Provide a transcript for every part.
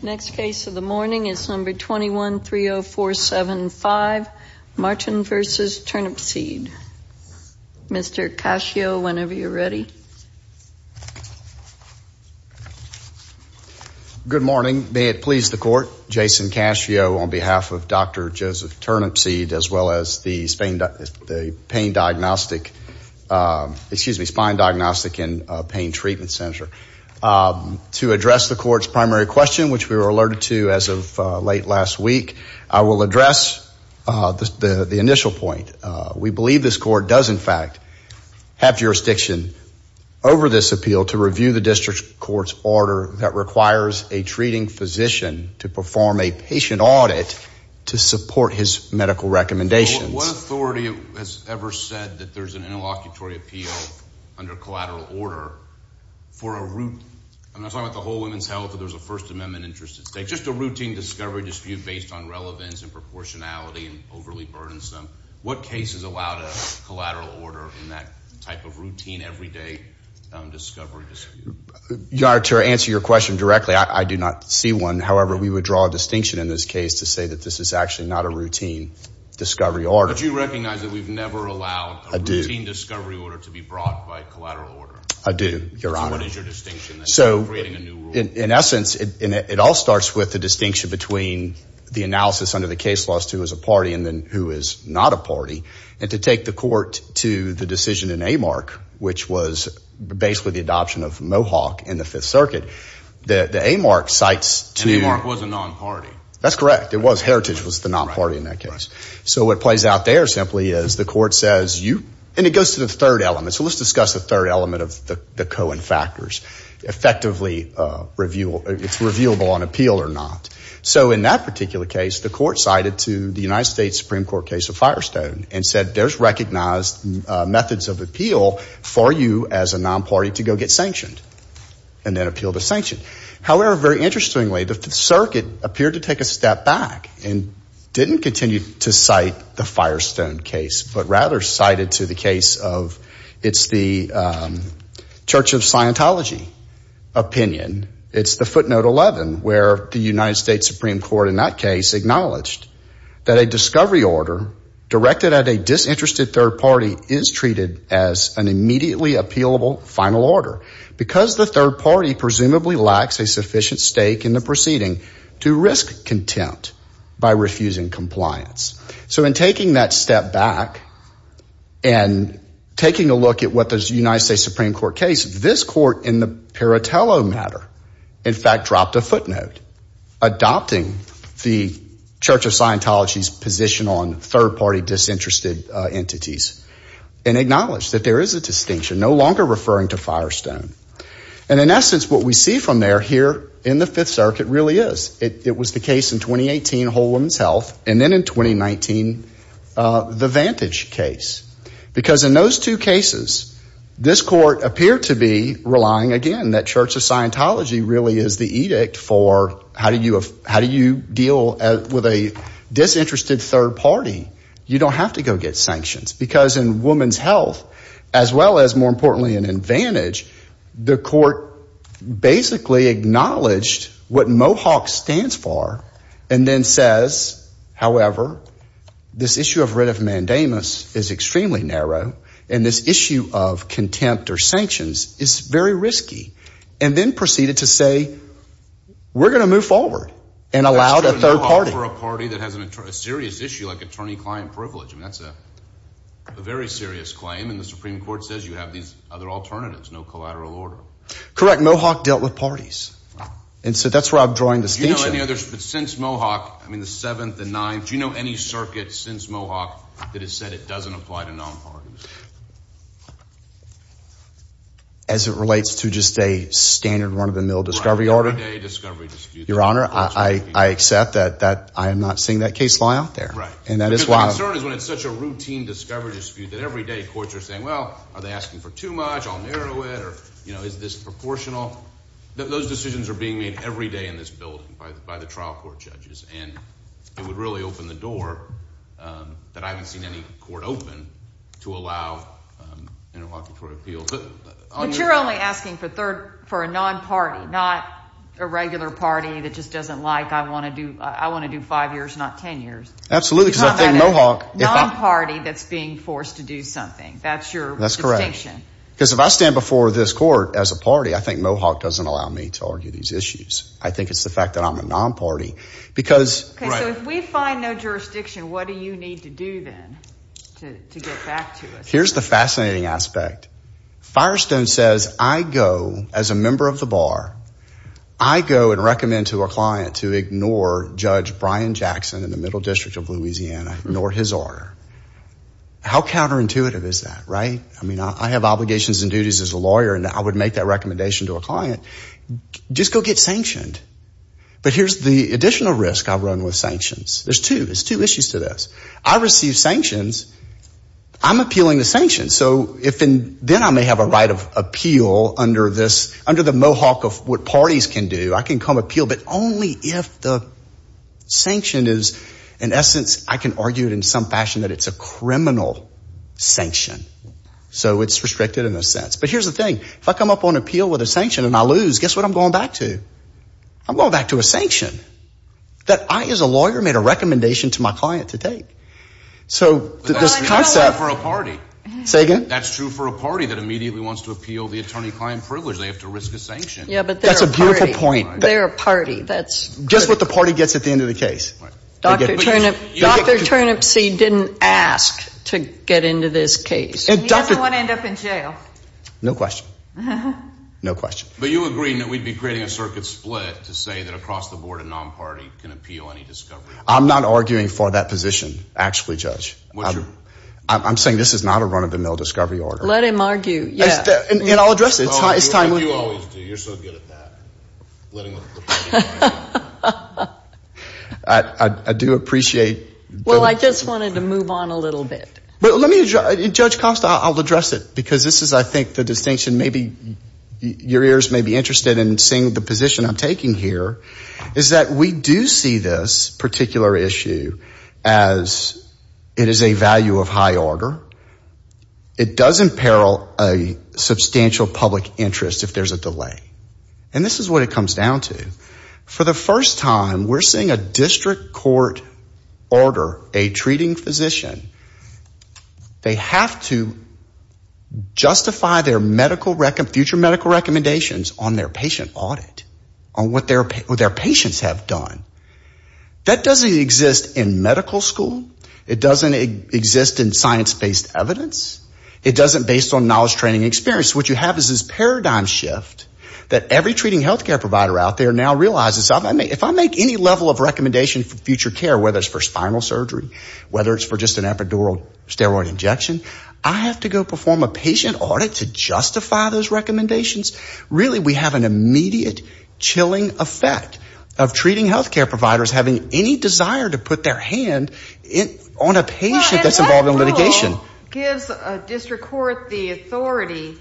Next case of the morning is number 21-30475, Martin v. Turnipseed. Mr. Cascio, whenever you're ready. Good morning. May it please the court, Jason Cascio on behalf of Dr. Joseph Turnipseed as well as the Spine Diagnostic and Pain Treatment Center. To address the court's primary question, which we were alerted to as of late last week, I will address the initial point. We believe this court does in fact have jurisdiction over this appeal to review the district court's order that requires a treating physician to perform a patient audit to support his medical recommendations. What authority has ever said that there's an interlocutory appeal under collateral order for a routine, I'm not talking about the whole women's health or there's a First Amendment interest at stake, just a routine discovery dispute based on relevance and proportionality and overly burdensome. What case has allowed a collateral order in that type of routine everyday discovery dispute? To answer your question directly, I do not see one. However, we would draw a distinction in this case to say that this is actually not a routine discovery order. But you recognize that we've never allowed a routine discovery order to be brought by collateral order? I do, your honor. So what is your distinction? So in essence, it all starts with the distinction between the analysis under the case laws to who is a party and then who is not a party. And to take the court to the decision in AMARC, which was basically the adoption of Mohawk in the Fifth Circuit, the AMARC cites to- And AMARC was a non-party. That's correct. It was. Heritage was the non-party in that case. So what plays out there simply is the court says you, and it goes to the third element. So let's discuss the third element of the Cohen factors. Effectively, it's reviewable on appeal or not. So in that particular case, the court cited to the United States Supreme Court case of Firestone and said there's recognized methods of appeal for you as a non-party to go get sanctioned and then appeal the sanction. However, very interestingly, the circuit appeared to take a step back and didn't continue to cite the Firestone case, but rather cited to the case of it's the Church of Scientology opinion. It's the footnote 11 where the United States Supreme Court in that case acknowledged that a discovery order directed at a disinterested third party is treated as an immediately appealable final order because the third party presumably lacks a sufficient stake in the proceeding to risk contempt by refusing compliance. So in taking that step back and taking a look at what the United States Supreme Court case, this court in the Piratello matter, in fact, dropped a footnote adopting the Church of Scientology and acknowledged that there is a distinction no longer referring to Firestone. And in essence, what we see from there here in the Fifth Circuit really is. It was the case in 2018, Whole Woman's Health, and then in 2019, the Vantage case. Because in those two cases, this court appeared to be relying again that Church of Scientology really is the edict for how do you deal with a disinterested third party? You don't have to go get sanctions. Because in Woman's Health, as well as more importantly in Vantage, the court basically acknowledged what Mohawk stands for and then says, however, this issue of writ of mandamus is extremely narrow and this issue of contempt or sanctions is very risky. And then proceeded to say, we're going to move forward and allowed a third party for a party that has a serious issue like attorney-client privilege. I mean, that's a very serious claim. And the Supreme Court says you have these other alternatives, no collateral order. Correct. Mohawk dealt with parties. And so that's where I'm drawing distinction. Do you know any others since Mohawk? I mean, the Seventh, the Ninth. Do you know any circuit since Mohawk that has said it doesn't apply to non-parties? As it relates to just a standard run-of-the-mill discovery order? Your Honor, I accept that I'm not seeing that case law out there. Right. Because the concern is when it's such a routine discovery dispute that every day courts are saying, well, are they asking for too much? I'll narrow it. Or, you know, is this proportional? Those decisions are being made every day in this building by the trial court judges. And it would really open the door that I haven't seen any court open to allow interlocutory appeals. But you're only asking for a non-party, not a regular party that just doesn't like, I want to do five years, not 10 years. Absolutely. Because I think Mohawk... You're talking about a non-party that's being forced to do something. That's your distinction. That's correct. Because if I stand before this court as a party, I think Mohawk doesn't allow me to argue these issues. I think it's the fact that I'm a non-party because... So if we find no jurisdiction, what do you need to do then to get back to us? Here's the fascinating aspect. Firestone says I go, as a member of the bar, I go and recommend to a client to ignore Judge Brian Jackson in the Middle District of Louisiana, ignore his order. How counterintuitive is that, right? I mean, I have obligations and duties as a lawyer and I would make that recommendation to a client. Just go get sanctioned. But here's the additional risk I run with sanctions. There's two. There's two issues to this. I receive sanctions. I'm appealing the sanctions. So then I may have a right of appeal under the Mohawk of what parties can do. I can come appeal, but only if the sanction is, in essence, I can argue it in some fashion that it's a criminal sanction. So it's restricted in a sense. But here's the thing. If I come up on appeal with a sanction and I lose, guess what I'm going back to? I'm going back to a sanction that I, as a lawyer, made a recommendation to my client to take. So this concept – But that's true for a party. Say again? That's true for a party that immediately wants to appeal the attorney-client privilege. They have to risk a sanction. Yeah, but they're a party. That's a beautiful point. They're a party. That's – Just what the party gets at the end of the case. Dr. Turnipseed didn't ask to get into this case. And he doesn't want to end up in jail. No question. No question. But you agree that we'd be creating a circuit split to say that across the board a non-party can appeal any discovery order? I'm not arguing for that position, actually, Judge. Would you? I'm saying this is not a run-of-the-mill discovery order. Let him argue. Yeah. And I'll address it. It's time – You always do. You're so good at that. I do appreciate – Well, I just wanted to move on a little bit. Judge Costa, I'll address it because this is, I think, the distinction maybe your ears may be interested in seeing the position I'm taking here is that we do see this particular issue as it is a value of high order. It does imperil a substantial public interest if there's a delay. And this is what it comes down to. For the first time, we're seeing a district court order a treating physician. They have to justify their medical – future medical recommendations on their patient audit, on what their patients have done. That doesn't exist in medical school. It doesn't exist in science-based evidence. It doesn't based on knowledge, training, and experience. What you have is this paradigm shift that every treating healthcare provider out there now realizes. If I make any level of recommendation for future care, whether it's for spinal surgery, whether it's for just an epidural steroid injection, I have to go perform a patient audit to justify those recommendations. Really, we have an immediate chilling effect of treating healthcare providers having any desire to put their hand on a patient that's involved in litigation. This gives a district court the authority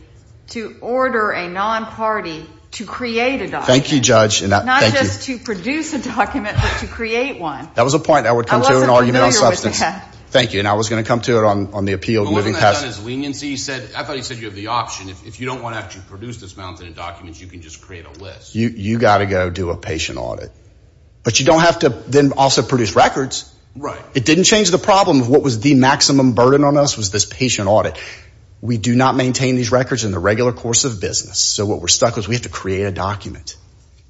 to order a non-party to create a document. Thank you, Judge. Not just to produce a document, but to create one. That was a point that would come to an argument on substance. I wasn't familiar with that. Thank you, and I was going to come to it on the appeal. But wasn't that done as leniency? I thought he said you have the option. If you don't want to actually produce this mountain of documents, you can just create a list. You've got to go do a patient audit. But you don't have to then also produce records. Right. It didn't change the problem of what was the maximum burden on us was this patient audit. We do not maintain these records in the regular course of business. So what we're stuck with is we have to create a document.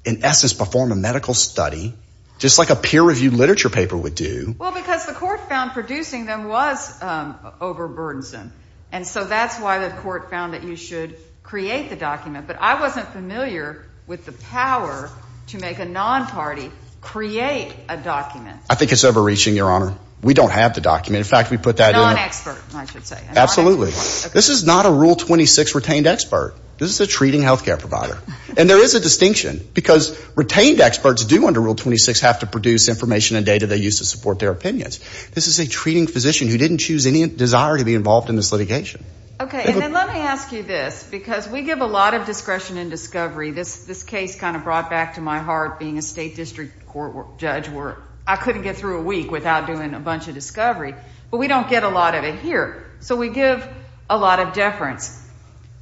In essence, perform a medical study, just like a peer-reviewed literature paper would do. Well, because the court found producing them was overburdensome. And so that's why the court found that you should create the document. But I wasn't familiar with the power to make a non-party create a document. I think it's overreaching, Your Honor. We don't have the document. In fact, we put that in. Non-expert, I should say. Absolutely. This is not a Rule 26 retained expert. This is a treating health care provider. And there is a distinction because retained experts do, under Rule 26, have to produce information and data they use to support their opinions. This is a treating physician who didn't choose any desire to be involved in this litigation. Okay, and then let me ask you this, because we give a lot of discretion in discovery. This case kind of brought back to my heart being a state district court judge where I couldn't get through a week without doing a bunch of discovery. But we don't get a lot of it here. So we give a lot of deference.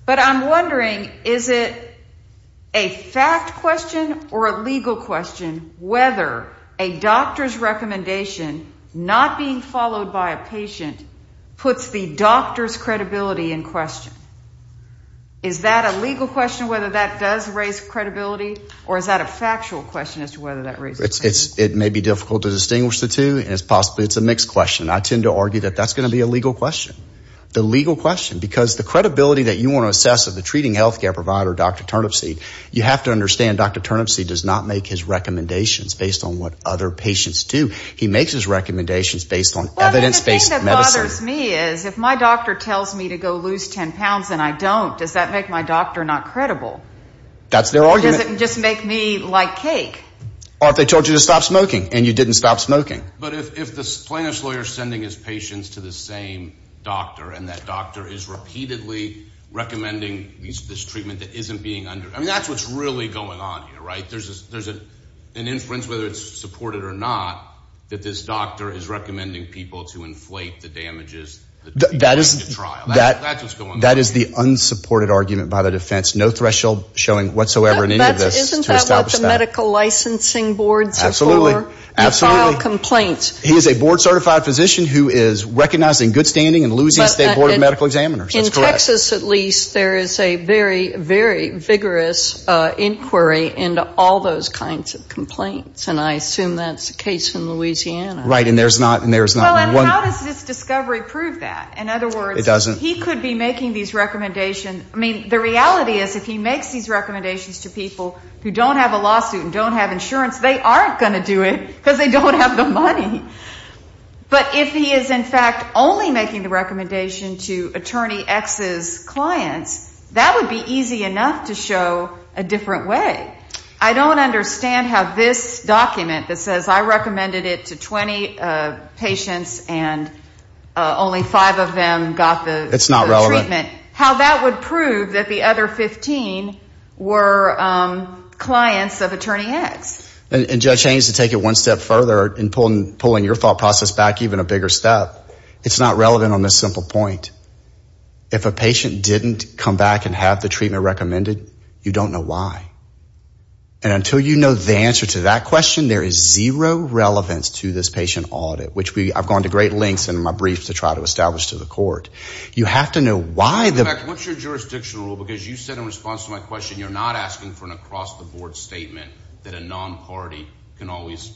But I'm wondering, is it a fact question or a legal question whether a doctor's recommendation, not being followed by a patient, puts the doctor's credibility in question? Is that a legal question, whether that does raise credibility, or is that a factual question as to whether that raises credibility? It may be difficult to distinguish the two, and possibly it's a mixed question. I tend to argue that that's going to be a legal question. The legal question, because the credibility that you want to assess of the treating health care provider, Dr. Turnipseed, you have to understand Dr. Turnipseed does not make his recommendations based on what other patients do. He makes his recommendations based on evidence-based medicine. If my doctor tells me to go lose 10 pounds and I don't, does that make my doctor not credible? That's their argument. Does it just make me like cake? Or if they told you to stop smoking and you didn't stop smoking. But if the plaintiff's lawyer is sending his patients to the same doctor and that doctor is repeatedly recommending this treatment that isn't being under— I mean, that's what's really going on here, right? There's an inference, whether it's supported or not, that this doctor is recommending people to inflate the damages that go into trial. That's what's going on here. That is the unsupported argument by the defense. No threshold showing whatsoever in any of this to establish that. Isn't that what the medical licensing boards are for? Absolutely. To file complaints. He is a board-certified physician who is recognizing good standing and losing state board of medical examiners. That's correct. In Texas, at least, there is a very, very vigorous inquiry into all those kinds of complaints. And I assume that's the case in Louisiana. Right. And there's not— Well, and how does this discovery prove that? In other words— It doesn't. He could be making these recommendations. I mean, the reality is if he makes these recommendations to people who don't have a lawsuit and don't have insurance, they aren't going to do it because they don't have the money. But if he is, in fact, only making the recommendation to Attorney X's clients, that would be easy enough to show a different way. I don't understand how this document that says I recommended it to 20 patients and only five of them got the treatment— It's not relevant. —how that would prove that the other 15 were clients of Attorney X. And Judge Haynes, to take it one step further in pulling your thought process back even a bigger step, it's not relevant on this simple point. If a patient didn't come back and have the treatment recommended, you don't know why. And until you know the answer to that question, there is zero relevance to this patient audit, which I've gone to great lengths in my briefs to try to establish to the court. You have to know why the— In fact, what's your jurisdictional rule? Because you said in response to my question you're not asking for an across-the-board statement that a non-party can always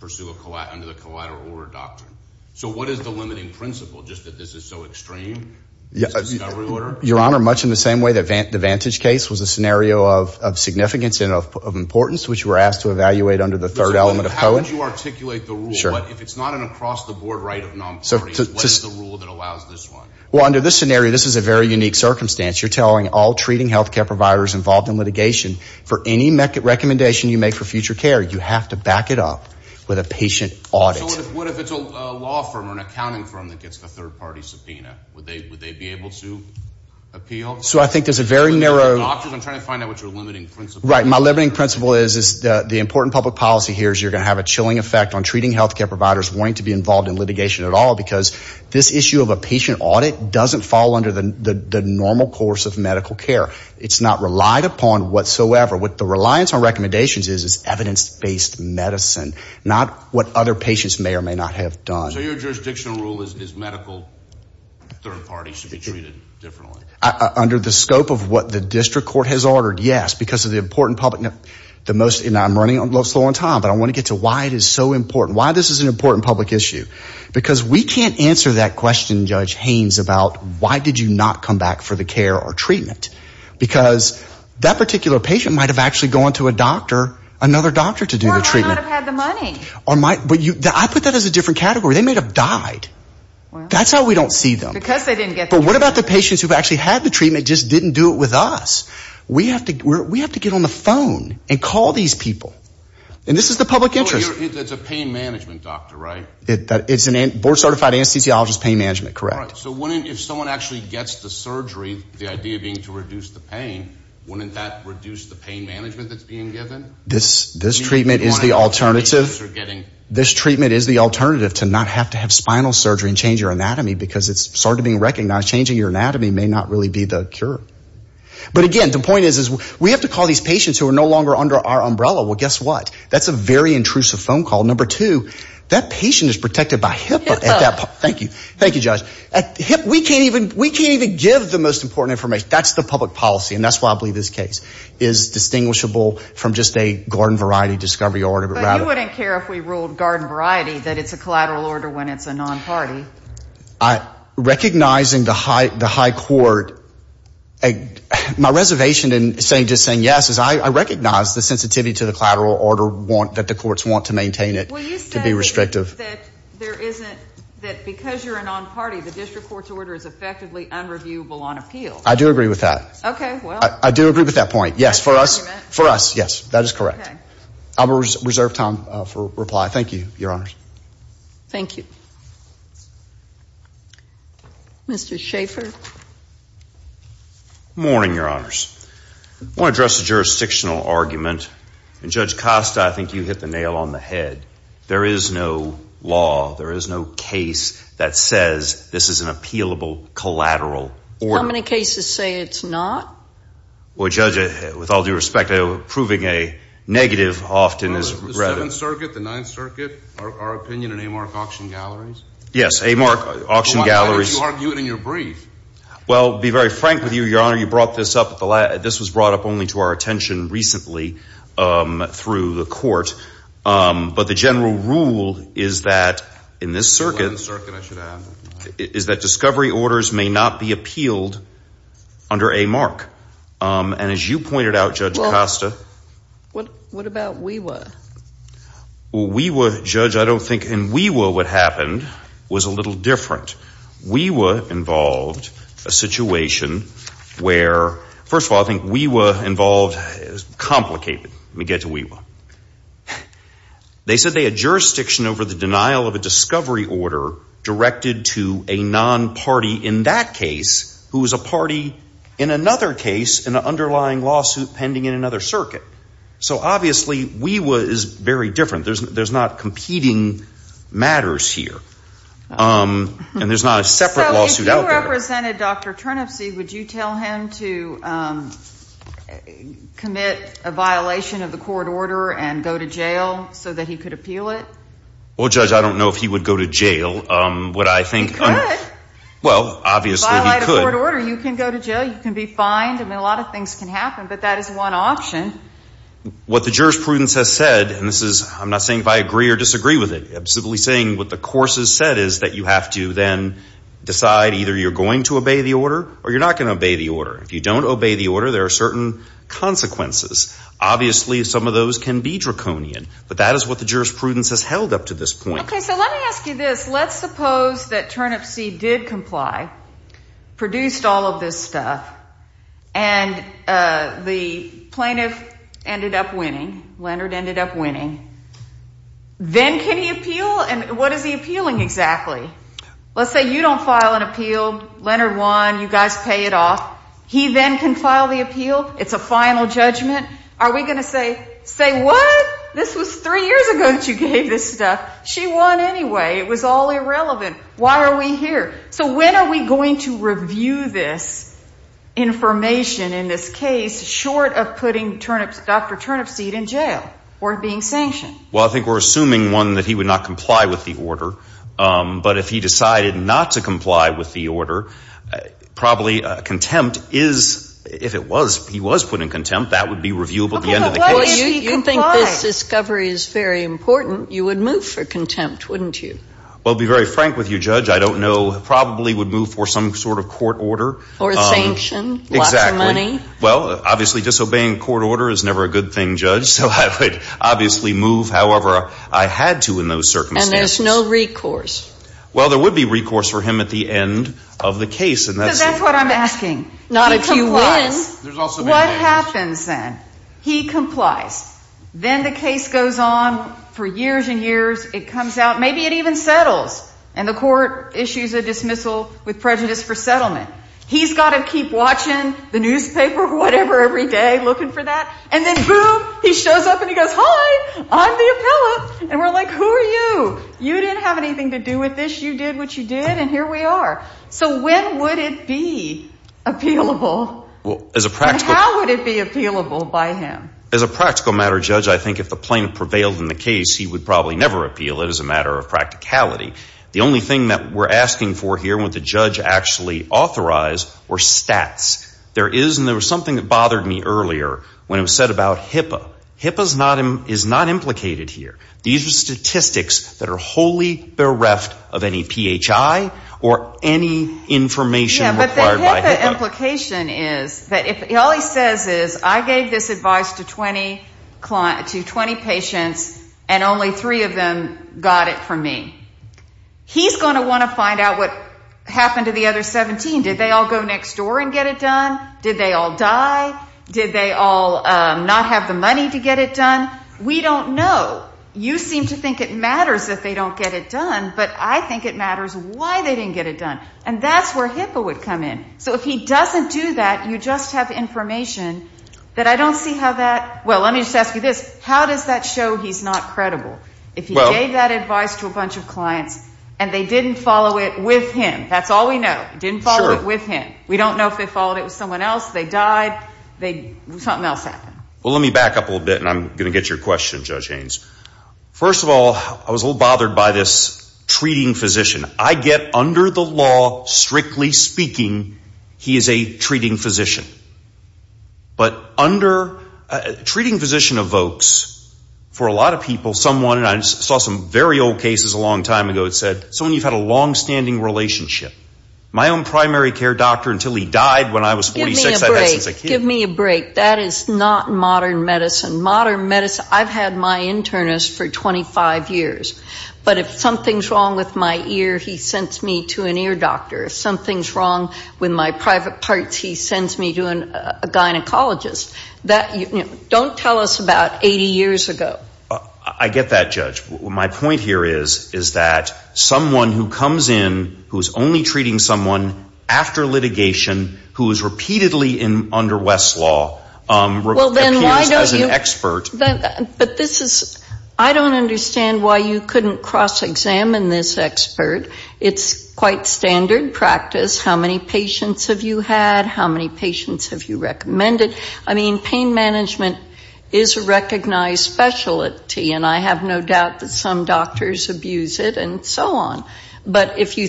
pursue under the collateral order doctrine. So what is the limiting principle, just that this is so extreme, this discovery order? Your Honor, much in the same way that the Vantage case was a scenario of significance and of importance, which we're asked to evaluate under the third element of Cohen— How would you articulate the rule? If it's not an across-the-board right of non-parties, what is the rule that allows this one? Well, under this scenario, this is a very unique circumstance. You're telling all treating health care providers involved in litigation, for any recommendation you make for future care, you have to back it up with a patient audit. So what if it's a law firm or an accounting firm that gets a third-party subpoena? Would they be able to appeal? So I think there's a very narrow— I'm trying to find out what your limiting principle is. Right. My limiting principle is the important public policy here is you're going to have a chilling effect on treating health care providers wanting to be involved in litigation at all because this issue of a patient audit doesn't fall under the normal course of medical care. It's not relied upon whatsoever. What the reliance on recommendations is is evidence-based medicine, not what other patients may or may not have done. So your jurisdictional rule is medical third parties should be treated differently? Under the scope of what the district court has ordered, yes, because of the important public— and I'm running a little slow on time, but I want to get to why it is so important, why this is an important public issue. Because we can't answer that question, Judge Haynes, about why did you not come back for the care or treatment because that particular patient might have actually gone to a doctor, another doctor to do the treatment. They might not have had the money. I put that as a different category. They might have died. That's how we don't see them. Because they didn't get the care. But what about the patients who actually had the treatment, just didn't do it with us? We have to get on the phone and call these people. And this is the public interest. It's a pain management doctor, right? It's a board-certified anesthesiologist pain management, correct. So if someone actually gets the surgery, the idea being to reduce the pain, wouldn't that reduce the pain management that's being given? This treatment is the alternative. This treatment is the alternative to not have to have spinal surgery and change your anatomy because it's starting to be recognized changing your anatomy may not really be the cure. But again, the point is we have to call these patients who are no longer under our umbrella. Well, guess what? That's a very intrusive phone call. Number two, that patient is protected by HIPAA. Thank you. Thank you, Judge. We can't even give the most important information. That's the public policy. And that's why I believe this case is distinguishable from just a garden variety discovery order. But you wouldn't care if we ruled garden variety that it's a collateral order when it's a non-party. Recognizing the high court, my reservation in just saying yes is I recognize the sensitivity to the collateral order that the courts want to maintain it to be restrictive. Well, you say that because you're a non-party, the district court's order is effectively unreviewable on appeal. I do agree with that. Okay, well. I do agree with that point, yes, for us. For us, yes, that is correct. I will reserve time for reply. Thank you, Your Honors. Thank you. Mr. Schaffer. Good morning, Your Honors. I want to address the jurisdictional argument. And Judge Costa, I think you hit the nail on the head. There is no law, there is no case that says this is an appealable collateral order. How many cases say it's not? Well, Judge, with all due respect, approving a negative often is regrettable. The Seventh Circuit, the Ninth Circuit, our opinion in Amark Auction Galleries? Yes, Amark Auction Galleries. Why don't you argue it in your brief? Well, to be very frank with you, Your Honor, you brought this up at the last – this was brought up only to our attention recently through the court. But the general rule is that in this circuit, is that discovery orders may not be appealed under Amark. And as you pointed out, Judge Costa – Well, what about WEWA? Well, WEWA, Judge, I don't think – in WEWA what happened was a little different. WEWA involved a situation where – first of all, I think WEWA involved complicated – let me get to WEWA. They said they had jurisdiction over the denial of a discovery order directed to a non-party in that case who was a party in another case in an underlying lawsuit pending in another circuit. So obviously WEWA is very different. There's not competing matters here. So if you represented Dr. Turnipsey, would you tell him to commit a violation of the court order and go to jail so that he could appeal it? Well, Judge, I don't know if he would go to jail. Would I think – He could. Well, obviously he could. Violate a court order. You can go to jail. You can be fined. I mean, a lot of things can happen. But that is one option. What the jurisprudence has said – and this is – I'm not saying if I agree or disagree with it. I'm simply saying what the course has said is that you have to then decide either you're going to obey the order or you're not going to obey the order. If you don't obey the order, there are certain consequences. Obviously, some of those can be draconian. But that is what the jurisprudence has held up to this point. Okay. So let me ask you this. Let's suppose that Turnipsey did comply, produced all of this stuff, and the plaintiff ended up winning, Leonard ended up winning. Then can he appeal? And what is he appealing exactly? Let's say you don't file an appeal. Leonard won. You guys pay it off. He then can file the appeal. It's a final judgment. Are we going to say, say what? This was three years ago that you gave this stuff. She won anyway. It was all irrelevant. Why are we here? So when are we going to review this information in this case short of putting Dr. Turnipseed in jail or being sanctioned? Well, I think we're assuming, one, that he would not comply with the order. But if he decided not to comply with the order, probably contempt is, if he was put in contempt, that would be reviewable at the end of the case. You think this discovery is very important. You would move for contempt, wouldn't you? I'll be very frank with you, Judge. I don't know. Probably would move for some sort of court order. Exactly. Lots of money. Well, obviously disobeying court order is never a good thing, Judge. So I would obviously move however I had to in those circumstances. And there's no recourse. Well, there would be recourse for him at the end of the case. Because that's what I'm asking. He complies. What happens then? He complies. Then the case goes on for years and years. It comes out. Maybe it even settles. And the court issues a dismissal with prejudice for settlement. He's got to keep watching the newspaper or whatever every day, looking for that. And then, boom, he shows up and he goes, hi, I'm the appellate. And we're like, who are you? You didn't have anything to do with this. You did what you did. And here we are. So when would it be appealable? As a practical matter. And how would it be appealable by him? As a practical matter, Judge, I think if the plaintiff prevailed in the case, he would probably never appeal. It is a matter of practicality. The only thing that we're asking for here, what the judge actually authorized, were stats. There is, and there was something that bothered me earlier when it was said about HIPAA. HIPAA is not implicated here. These are statistics that are wholly bereft of any PHI or any information required by HIPAA. The implication is, all he says is, I gave this advice to 20 patients and only three of them got it from me. He's going to want to find out what happened to the other 17. Did they all go next door and get it done? Did they all die? Did they all not have the money to get it done? We don't know. You seem to think it matters that they don't get it done, but I think it matters why they didn't get it done. And that's where HIPAA would come in. So if he doesn't do that, you just have information that I don't see how that, well, let me just ask you this. How does that show he's not credible? If he gave that advice to a bunch of clients and they didn't follow it with him. That's all we know. They didn't follow it with him. We don't know if they followed it with someone else. They died. Something else happened. Well, let me back up a little bit, and I'm going to get your question, Judge Haynes. First of all, I was a little bothered by this treating physician. I get under the law, strictly speaking, he is a treating physician. But treating physician evokes for a lot of people someone, and I saw some very old cases a long time ago, it said someone you've had a longstanding relationship. My own primary care doctor until he died when I was 46. Give me a break. Give me a break. That is not modern medicine. Modern medicine, I've had my internist for 25 years. But if something's wrong with my ear, he sends me to an ear doctor. If something's wrong with my private parts, he sends me to a gynecologist. Don't tell us about 80 years ago. I get that, Judge. My point here is, is that someone who comes in who is only treating someone after litigation, who is repeatedly under West's law, appears as an expert. But this is, I don't understand why you couldn't cross-examine this expert. It's quite standard practice. How many patients have you had? How many patients have you recommended? I mean, pain management is a recognized specialty, and I have no doubt that some doctors abuse it and so on. But if you,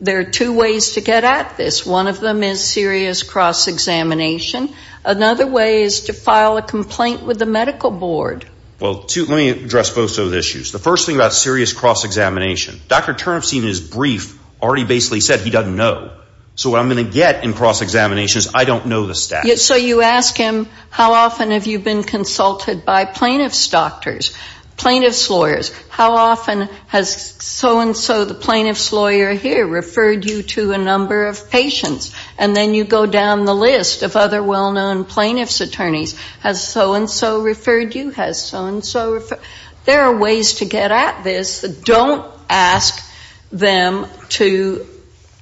there are two ways to get at this. One of them is serious cross-examination. Another way is to file a complaint with the medical board. Well, let me address both of those issues. The first thing about serious cross-examination, Dr. Turnipseed, in his brief, already basically said he doesn't know. So what I'm going to get in cross-examination is I don't know the stats. So you ask him, how often have you been consulted by plaintiff's doctors, plaintiff's lawyers? How often has so-and-so, the plaintiff's lawyer here, referred you to a number of patients? And then you go down the list of other well-known plaintiff's attorneys. Has so-and-so referred you? Has so-and-so referred? There are ways to get at this that don't ask them to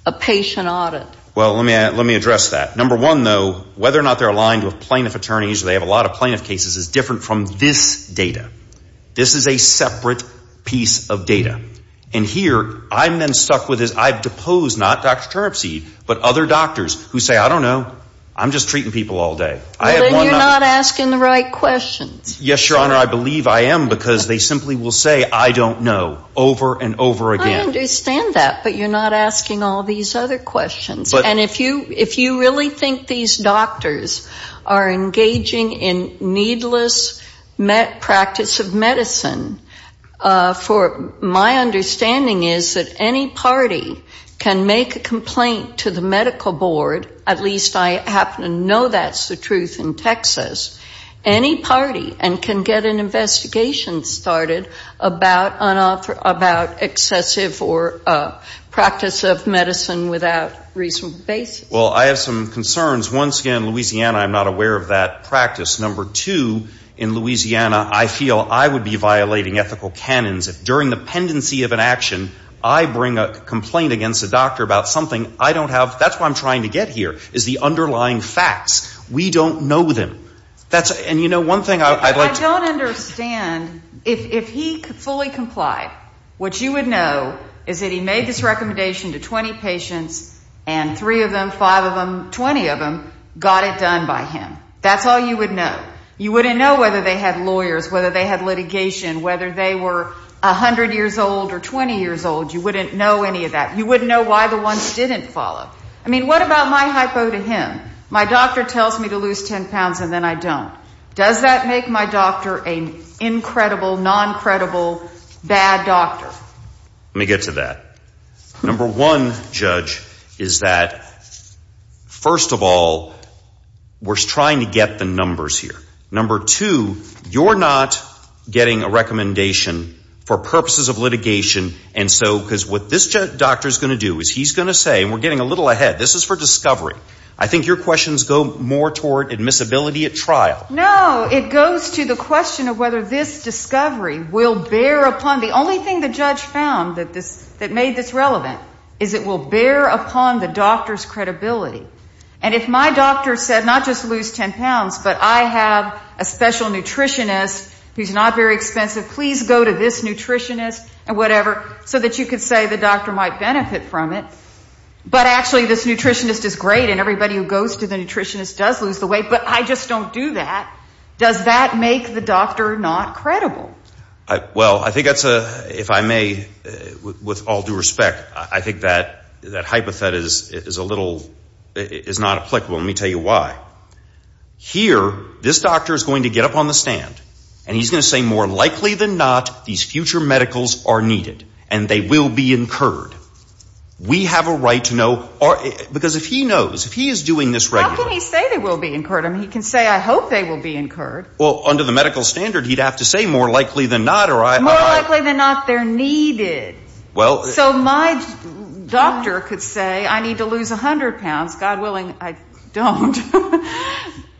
a patient audit. Well, let me address that. Number one, though, whether or not they're aligned with plaintiff attorneys, or they have a lot of plaintiff cases, is different from this data. This is a separate piece of data. And here, I'm then stuck with this. I've deposed, not Dr. Turnipseed, but other doctors who say, I don't know. I'm just treating people all day. Well, then you're not asking the right questions. Yes, Your Honor, I believe I am, because they simply will say, I don't know, over and over again. I understand that, but you're not asking all these other questions. And if you really think these doctors are engaging in needless practice of medicine, my understanding is that any party can make a complaint to the medical board, at least I happen to know that's the truth in Texas, any party, and can get an investigation started about excessive or practice of medicine without reasonable basis. Well, I have some concerns. Once again, Louisiana, I'm not aware of that practice. Number two, in Louisiana, I feel I would be violating ethical canons if during the pendency of an action, I bring a complaint against a doctor about something I don't have. That's what I'm trying to get here, is the underlying facts. We don't know them. And, you know, one thing I'd like to. I don't understand. If he fully complied, what you would know is that he made this recommendation to 20 patients, and three of them, five of them, 20 of them got it done by him. That's all you would know. You wouldn't know whether they had lawyers, whether they had litigation, whether they were 100 years old or 20 years old. You wouldn't know any of that. You wouldn't know why the ones didn't follow. I mean, what about my hypo to him? My doctor tells me to lose 10 pounds, and then I don't. Does that make my doctor an incredible, non-credible, bad doctor? Let me get to that. Number one, Judge, is that, first of all, we're trying to get the numbers here. Number two, you're not getting a recommendation for purposes of litigation, and so what this doctor is going to do is he's going to say, and we're getting a little ahead. This is for discovery. I think your questions go more toward admissibility at trial. No, it goes to the question of whether this discovery will bear upon. The only thing the judge found that made this relevant is it will bear upon the doctor's credibility. And if my doctor said, not just lose 10 pounds, but I have a special nutritionist who's not very expensive, please go to this nutritionist and whatever, so that you could say the doctor might benefit from it. But actually, this nutritionist is great, and everybody who goes to the nutritionist does lose the weight, but I just don't do that. Does that make the doctor not credible? Well, I think that's a, if I may, with all due respect, I think that that hypothet is a little, is not applicable, and let me tell you why. Here, this doctor is going to get up on the stand, and he's going to say, more likely than not, these future medicals are needed, and they will be incurred. We have a right to know, because if he knows, if he is doing this regularly. How can he say they will be incurred? I mean, he can say, I hope they will be incurred. Well, under the medical standard, he'd have to say, more likely than not. More likely than not, they're needed. So my doctor could say, I need to lose 100 pounds. God willing, I don't.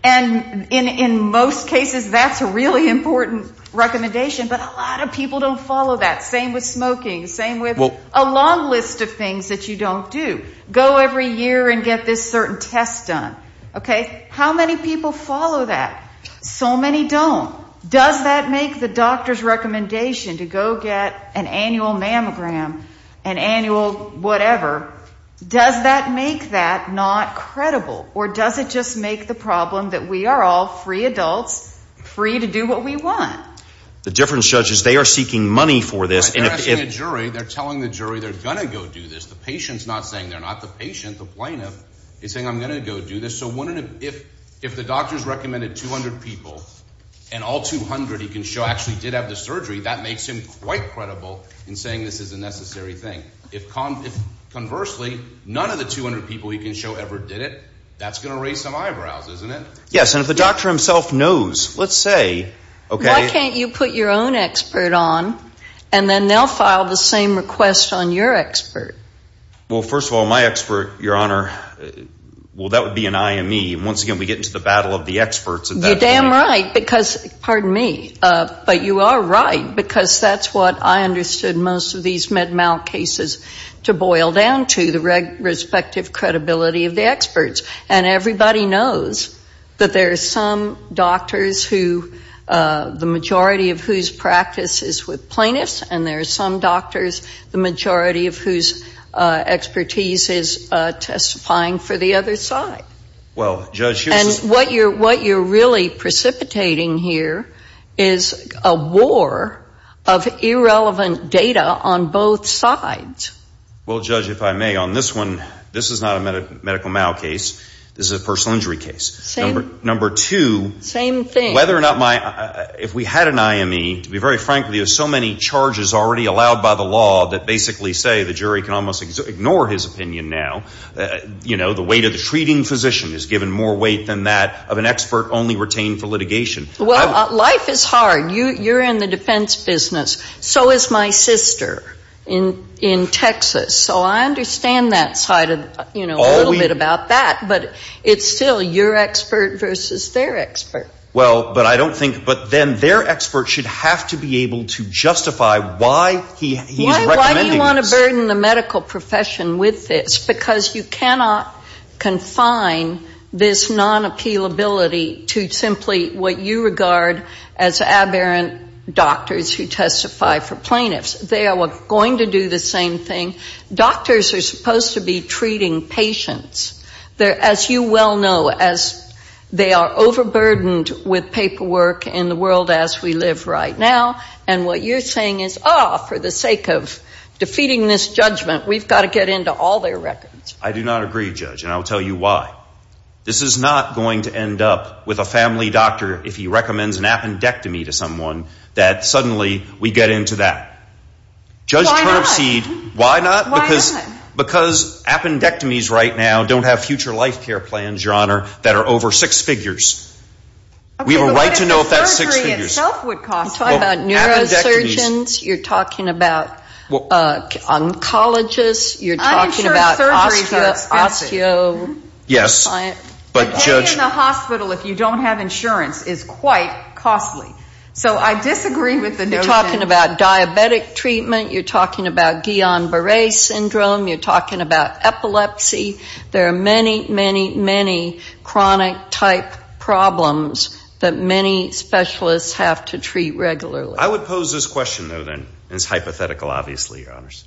And in most cases, that's a really important recommendation. But a lot of people don't follow that. Same with smoking. Same with a long list of things that you don't do. Go every year and get this certain test done. Okay? How many people follow that? So many don't. Does that make the doctor's recommendation to go get an annual mammogram, an annual whatever, does that make that not credible? Or does it just make the problem that we are all free adults, free to do what we want? The difference, Judge, is they are seeking money for this. They're asking a jury. They're telling the jury they're going to go do this. The patient's not saying they're not the patient. The plaintiff is saying, I'm going to go do this. So if the doctor's recommended 200 people, and all 200 he can show actually did have the surgery, that makes him quite credible in saying this is a necessary thing. If, conversely, none of the 200 people he can show ever did it, that's going to raise some eyebrows, isn't it? Yes. And if the doctor himself knows, let's say, okay. Why can't you put your own expert on, and then they'll file the same request on your expert? Well, first of all, my expert, Your Honor, well, that would be an IME. And once again, we get into the battle of the experts at that point. You're damn right. Pardon me. But you are right, because that's what I understood most of these Med-Mal cases to boil down to, the respective credibility of the experts. And everybody knows that there are some doctors who the majority of whose practice is with plaintiffs, and there are some doctors the majority of whose expertise is testifying for the other side. And what you're really precipitating here is a war of irrelevant data on both sides. Well, Judge, if I may, on this one, this is not a medical mal case. This is a personal injury case. Same. Number two. Same thing. Whether or not my – if we had an IME, to be very frank with you, so many charges already allowed by the law that basically say the jury can almost ignore his opinion now, you know, the weight of the treating physician is given more weight than that of an expert only retained for litigation. Well, life is hard. You're in the defense business. So is my sister in Texas. So I understand that side a little bit about that. But it's still your expert versus their expert. Well, but I don't think – but then their expert should have to be able to justify why he's recommending this. You're going to burden the medical profession with this because you cannot confine this non-appealability to simply what you regard as aberrant doctors who testify for plaintiffs. They are going to do the same thing. Doctors are supposed to be treating patients. As you well know, they are overburdened with paperwork in the world as we live right now. And what you're saying is, oh, for the sake of defeating this judgment, we've got to get into all their records. I do not agree, Judge, and I'll tell you why. This is not going to end up with a family doctor if he recommends an appendectomy to someone that suddenly we get into that. Why not? Judge Turnipseed, why not? Why not? Because appendectomies right now don't have future life care plans, Your Honor, that are over six figures. We have a right to know if that's six figures. You're talking about neurosurgeons. You're talking about oncologists. You're talking about osteo- Yes, but, Judge. Staying in the hospital if you don't have insurance is quite costly. So I disagree with the notion. You're talking about diabetic treatment. You're talking about Guillain-Barre syndrome. You're talking about epilepsy. There are many, many, many chronic-type problems that many specialists have to treat regularly. I would pose this question, though, then. It's hypothetical, obviously, Your Honors.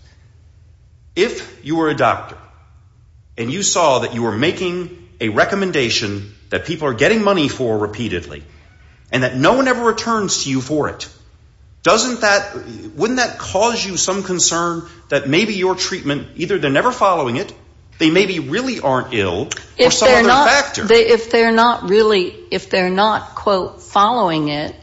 If you were a doctor and you saw that you were making a recommendation that people are getting money for repeatedly and that no one ever returns to you for it, wouldn't that cause you some concern that maybe your treatment, either they're never following it, they maybe really aren't ill, or some other factor? If they're not really, if they're not, quote, following it,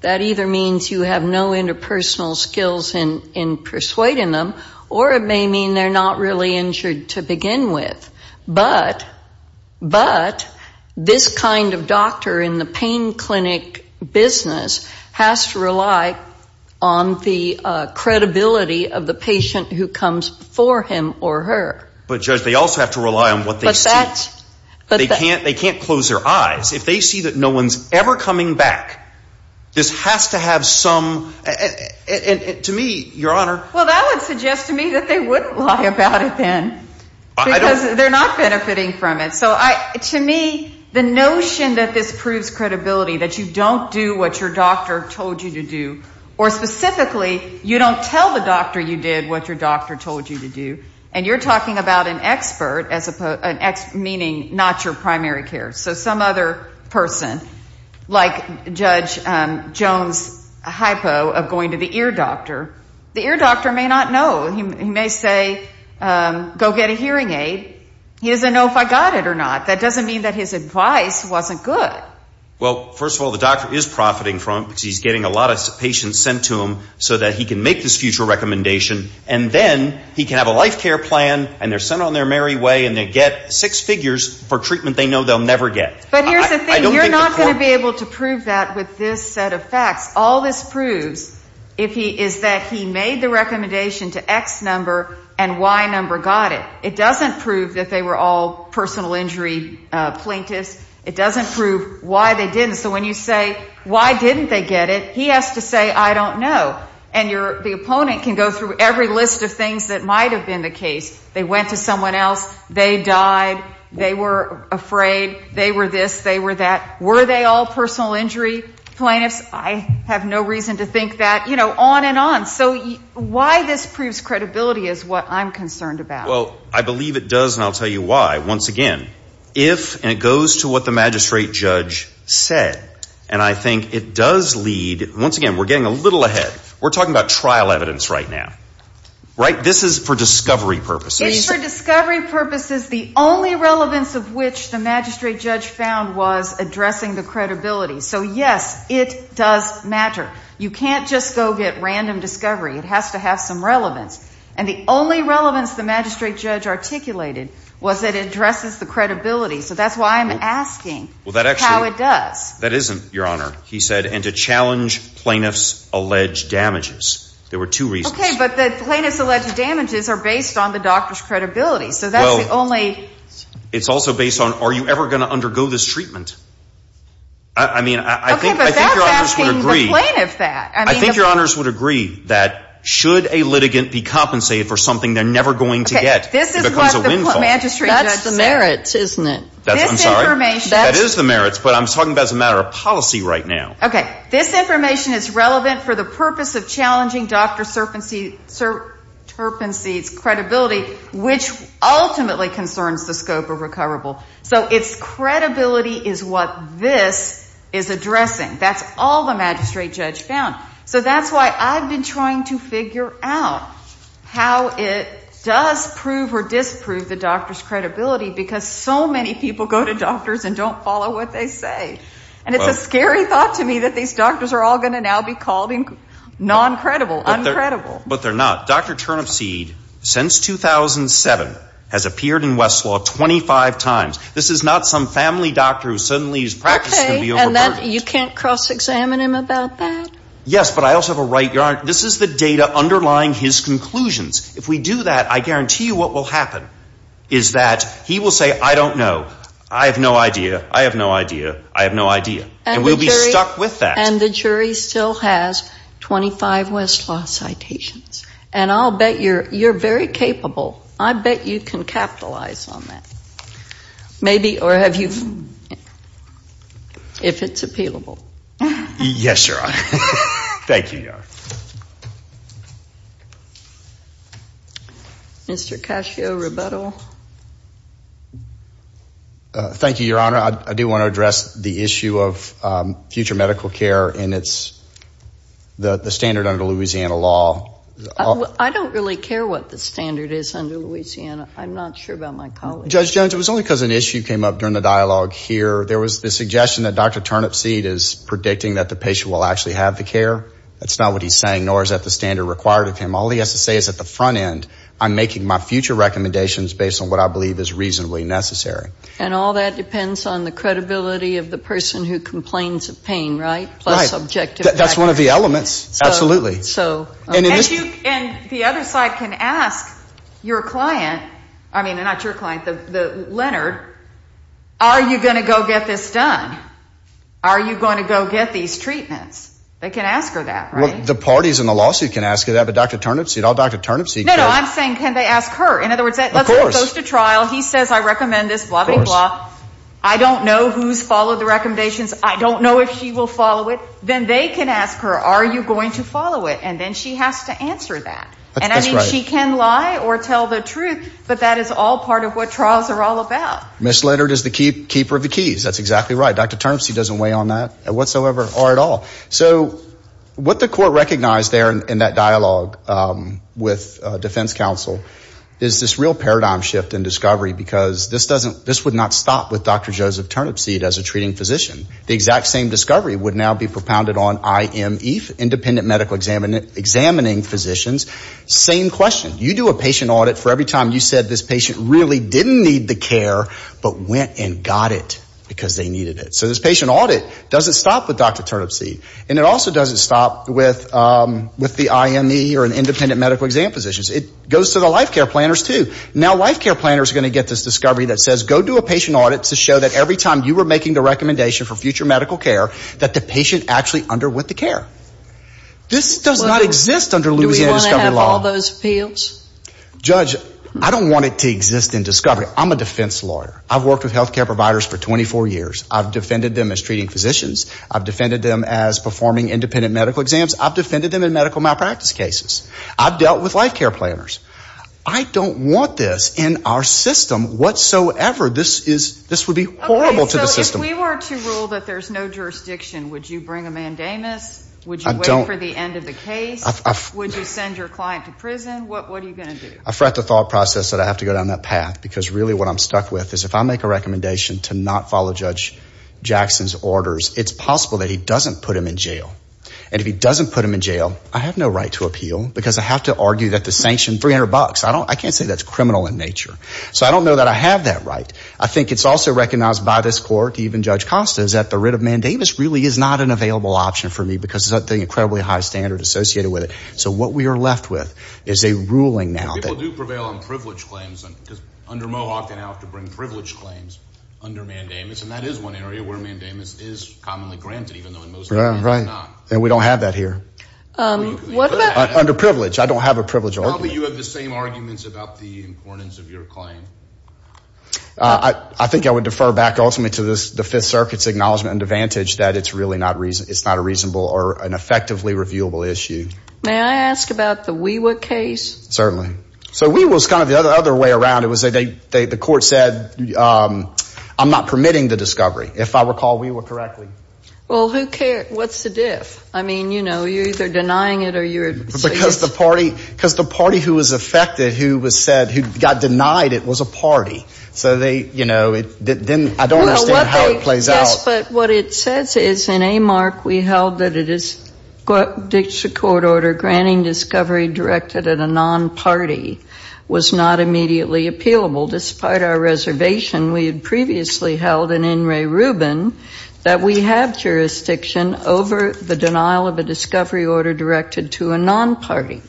that either means you have no interpersonal skills in persuading them, or it may mean they're not really injured to begin with. But, but this kind of doctor in the pain clinic business has to rely on the credibility of the patient who comes for him or her. But, Judge, they also have to rely on what they see. But that's – They can't close their eyes. If they see that no one's ever coming back, this has to have some – and to me, Your Honor – Well, that would suggest to me that they wouldn't lie about it then. Because they're not benefiting from it. So to me, the notion that this proves credibility, that you don't do what your doctor told you to do, or specifically, you don't tell the doctor you did what your doctor told you to do, and you're talking about an expert, meaning not your primary care, so some other person, like Judge Jones' hypo of going to the ear doctor, the ear doctor may not know. He may say, go get a hearing aid. He doesn't know if I got it or not. That doesn't mean that his advice wasn't good. Well, first of all, the doctor is profiting from it because he's getting a lot of patients sent to him so that he can make this future recommendation, and then he can have a life care plan, and they're sent on their merry way, and they get six figures for treatment they know they'll never get. But here's the thing. You're not going to be able to prove that with this set of facts. All this proves is that he made the recommendation to X number and Y number got it. It doesn't prove that they were all personal injury plaintiffs. It doesn't prove why they didn't. So when you say, why didn't they get it, he has to say, I don't know. And the opponent can go through every list of things that might have been the case. They went to someone else. They died. They were afraid. They were this. They were that. Were they all personal injury plaintiffs? I have no reason to think that, you know, on and on. So why this proves credibility is what I'm concerned about. Well, I believe it does, and I'll tell you why. Once again, if, and it goes to what the magistrate judge said, and I think it does lead, once again, we're getting a little ahead. We're talking about trial evidence right now, right? This is for discovery purposes. It is for discovery purposes. The only relevance of which the magistrate judge found was addressing the credibility. So, yes, it does matter. You can't just go get random discovery. It has to have some relevance. And the only relevance the magistrate judge articulated was that it addresses the credibility. So that's why I'm asking how it does. That isn't, Your Honor, he said, and to challenge plaintiffs' alleged damages. There were two reasons. Okay, but the plaintiffs' alleged damages are based on the doctor's credibility. So that's the only. It's also based on, are you ever going to undergo this treatment? I mean, I think Your Honors would agree. Okay, but that's asking the plaintiff that. I think Your Honors would agree that should a litigant be compensated for something they're never going to get, it becomes a windfall. Okay, this is what the magistrate judge said. That's the merits, isn't it? That's, I'm sorry. This information. That is the merits, but I'm talking about as a matter of policy right now. Okay, this information is relevant for the purpose of challenging Dr. Serpency's credibility, which ultimately concerns the scope of recoverable. So it's credibility is what this is addressing. That's all the magistrate judge found. So that's why I've been trying to figure out how it does prove or disprove the doctor's credibility, because so many people go to doctors and don't follow what they say. And it's a scary thought to me that these doctors are all going to now be called non-credible, uncredible. But they're not. Dr. Turnipseed, since 2007, has appeared in Westlaw 25 times. This is not some family doctor who suddenly his practice is going to be overburdened. Okay, and you can't cross-examine him about that? Yes, but I also have a right, Your Honor. This is the data underlying his conclusions. If we do that, I guarantee you what will happen is that he will say, I don't know. I have no idea. I have no idea. I have no idea. And we'll be stuck with that. And the jury still has 25 Westlaw citations. And I'll bet you're very capable. I bet you can capitalize on that. Maybe, or have you, if it's appealable. Yes, Your Honor. Thank you, Your Honor. Mr. Cascio-Rubetto. Thank you, Your Honor. I do want to address the issue of future medical care and the standard under Louisiana law. I don't really care what the standard is under Louisiana. I'm not sure about my colleagues. Judge Jones, it was only because an issue came up during the dialogue here. There was the suggestion that Dr. Turnipseed is predicting that the patient will actually have the care. That's not what he's saying, nor is that the standard required of him. All he has to say is at the front end, I'm making my future recommendations based on what I believe is reasonably necessary. And all that depends on the credibility of the person who complains of pain, right? Right. Plus subjective factors. That's one of the elements. Absolutely. And the other side can ask your client, I mean, not your client, Leonard, are you going to go get this done? Are you going to go get these treatments? They can ask her that, right? The parties in the lawsuit can ask her that, but Dr. Turnipseed, all Dr. Turnipseed does – No, no, I'm saying can they ask her? Of course. He goes to trial. He says I recommend this, blah, blah, blah. I don't know who's followed the recommendations. I don't know if she will follow it. Then they can ask her, are you going to follow it? And then she has to answer that. And I mean she can lie or tell the truth, but that is all part of what trials are all about. Ms. Leonard is the keeper of the keys. That's exactly right. Dr. Turnipseed doesn't weigh on that whatsoever or at all. So what the court recognized there in that dialogue with defense counsel is this real paradigm shift in discovery because this would not stop with Dr. Joseph Turnipseed as a treating physician. The exact same discovery would now be propounded on I.M. Eath, independent medical examining physicians. Same question. You do a patient audit for every time you said this patient really didn't need the care but went and got it because they needed it. So this patient audit doesn't stop with Dr. Turnipseed. And it also doesn't stop with the I.M. Eath or independent medical exam physicians. It goes to the life care planners too. Now life care planners are going to get this discovery that says go do a patient audit to show that every time you were making the recommendation for future medical care that the patient actually underwent the care. This does not exist under Louisiana discovery law. Do we want to have all those appeals? Judge, I don't want it to exist in discovery. I'm a defense lawyer. I've worked with health care providers for 24 years. I've defended them as treating physicians. I've defended them as performing independent medical exams. I've defended them in medical malpractice cases. I've dealt with life care planners. I don't want this in our system whatsoever. This would be horrible to the system. So if we were to rule that there's no jurisdiction, would you bring a mandamus? Would you wait for the end of the case? Would you send your client to prison? What are you going to do? I fret the thought process that I have to go down that path because really what I'm stuck with is if I make a recommendation to not follow Judge Jackson's orders, it's possible that he doesn't put him in jail. And if he doesn't put him in jail, I have no right to appeal because I have to argue that the sanction, 300 bucks, I can't say that's criminal in nature. So I don't know that I have that right. I think it's also recognized by this court, even Judge Costa, is that the writ of mandamus really is not an available option for me because of the incredibly high standard associated with it. So what we are left with is a ruling now. People do prevail on privilege claims. Under Mohawk, they now have to bring privilege claims under mandamus, and that is one area where mandamus is commonly granted even though in most cases it's not. We don't have that here. Under privilege. I don't have a privilege argument. Probably you have the same arguments about the importance of your claim. I think I would defer back ultimately to the Fifth Circuit's acknowledgment and advantage that it's really not a reasonable or an effectively reviewable issue. May I ask about the WeWa case? Certainly. So WeWa is kind of the other way around. It was the court said, I'm not permitting the discovery, if I recall WeWa correctly. Well, who cares? What's the diff? I mean, you know, you're either denying it or you're saying it. Because the party who was affected, who was said, who got denied it was a party. So they, you know, I don't understand how it plays out. Yes, but what it says is in AMARC we held that a court order granting discovery directed at a non-party was not immediately appealable. Despite our reservation, we had previously held in N. Ray Rubin that we have jurisdiction over the denial of a discovery order directed to a non-party.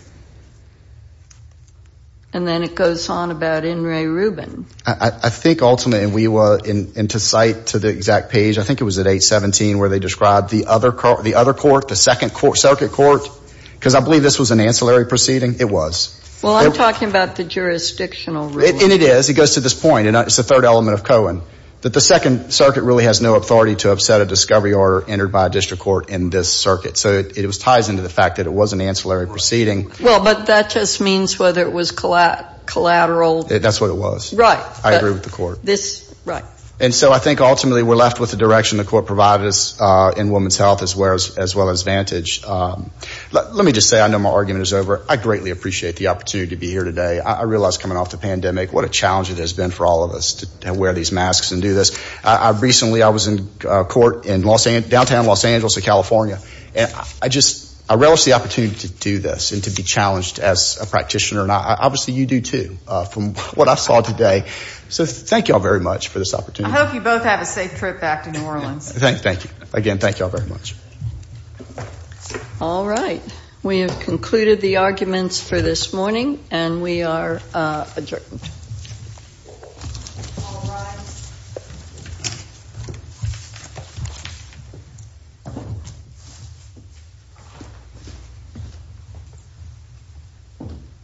And then it goes on about N. Ray Rubin. I think ultimately in WeWa and to cite to the exact page, I think it was at 817 where they described the other court, the second circuit court, because I believe this was an ancillary proceeding. It was. Well, I'm talking about the jurisdictional ruling. And it is. It goes to this point, and it's the third element of Cohen, that the second circuit really has no authority to upset a discovery order entered by a district court in this circuit. So it ties into the fact that it was an ancillary proceeding. Well, but that just means whether it was collateral. That's what it was. Right. I agree with the court. Right. And so I think ultimately we're left with the direction the court provided us in women's health as well as Vantage. Let me just say I know my argument is over. I greatly appreciate the opportunity to be here today. I realize coming off the pandemic what a challenge it has been for all of us to wear these masks and do this. Recently I was in court in downtown Los Angeles, California. And I just relish the opportunity to do this and to be challenged as a practitioner. And obviously you do, too, from what I saw today. So thank you all very much for this opportunity. I hope you both have a safe trip back to New Orleans. Thank you. Again, thank you all very much. All right. We have concluded the arguments for this morning, and we are adjourned.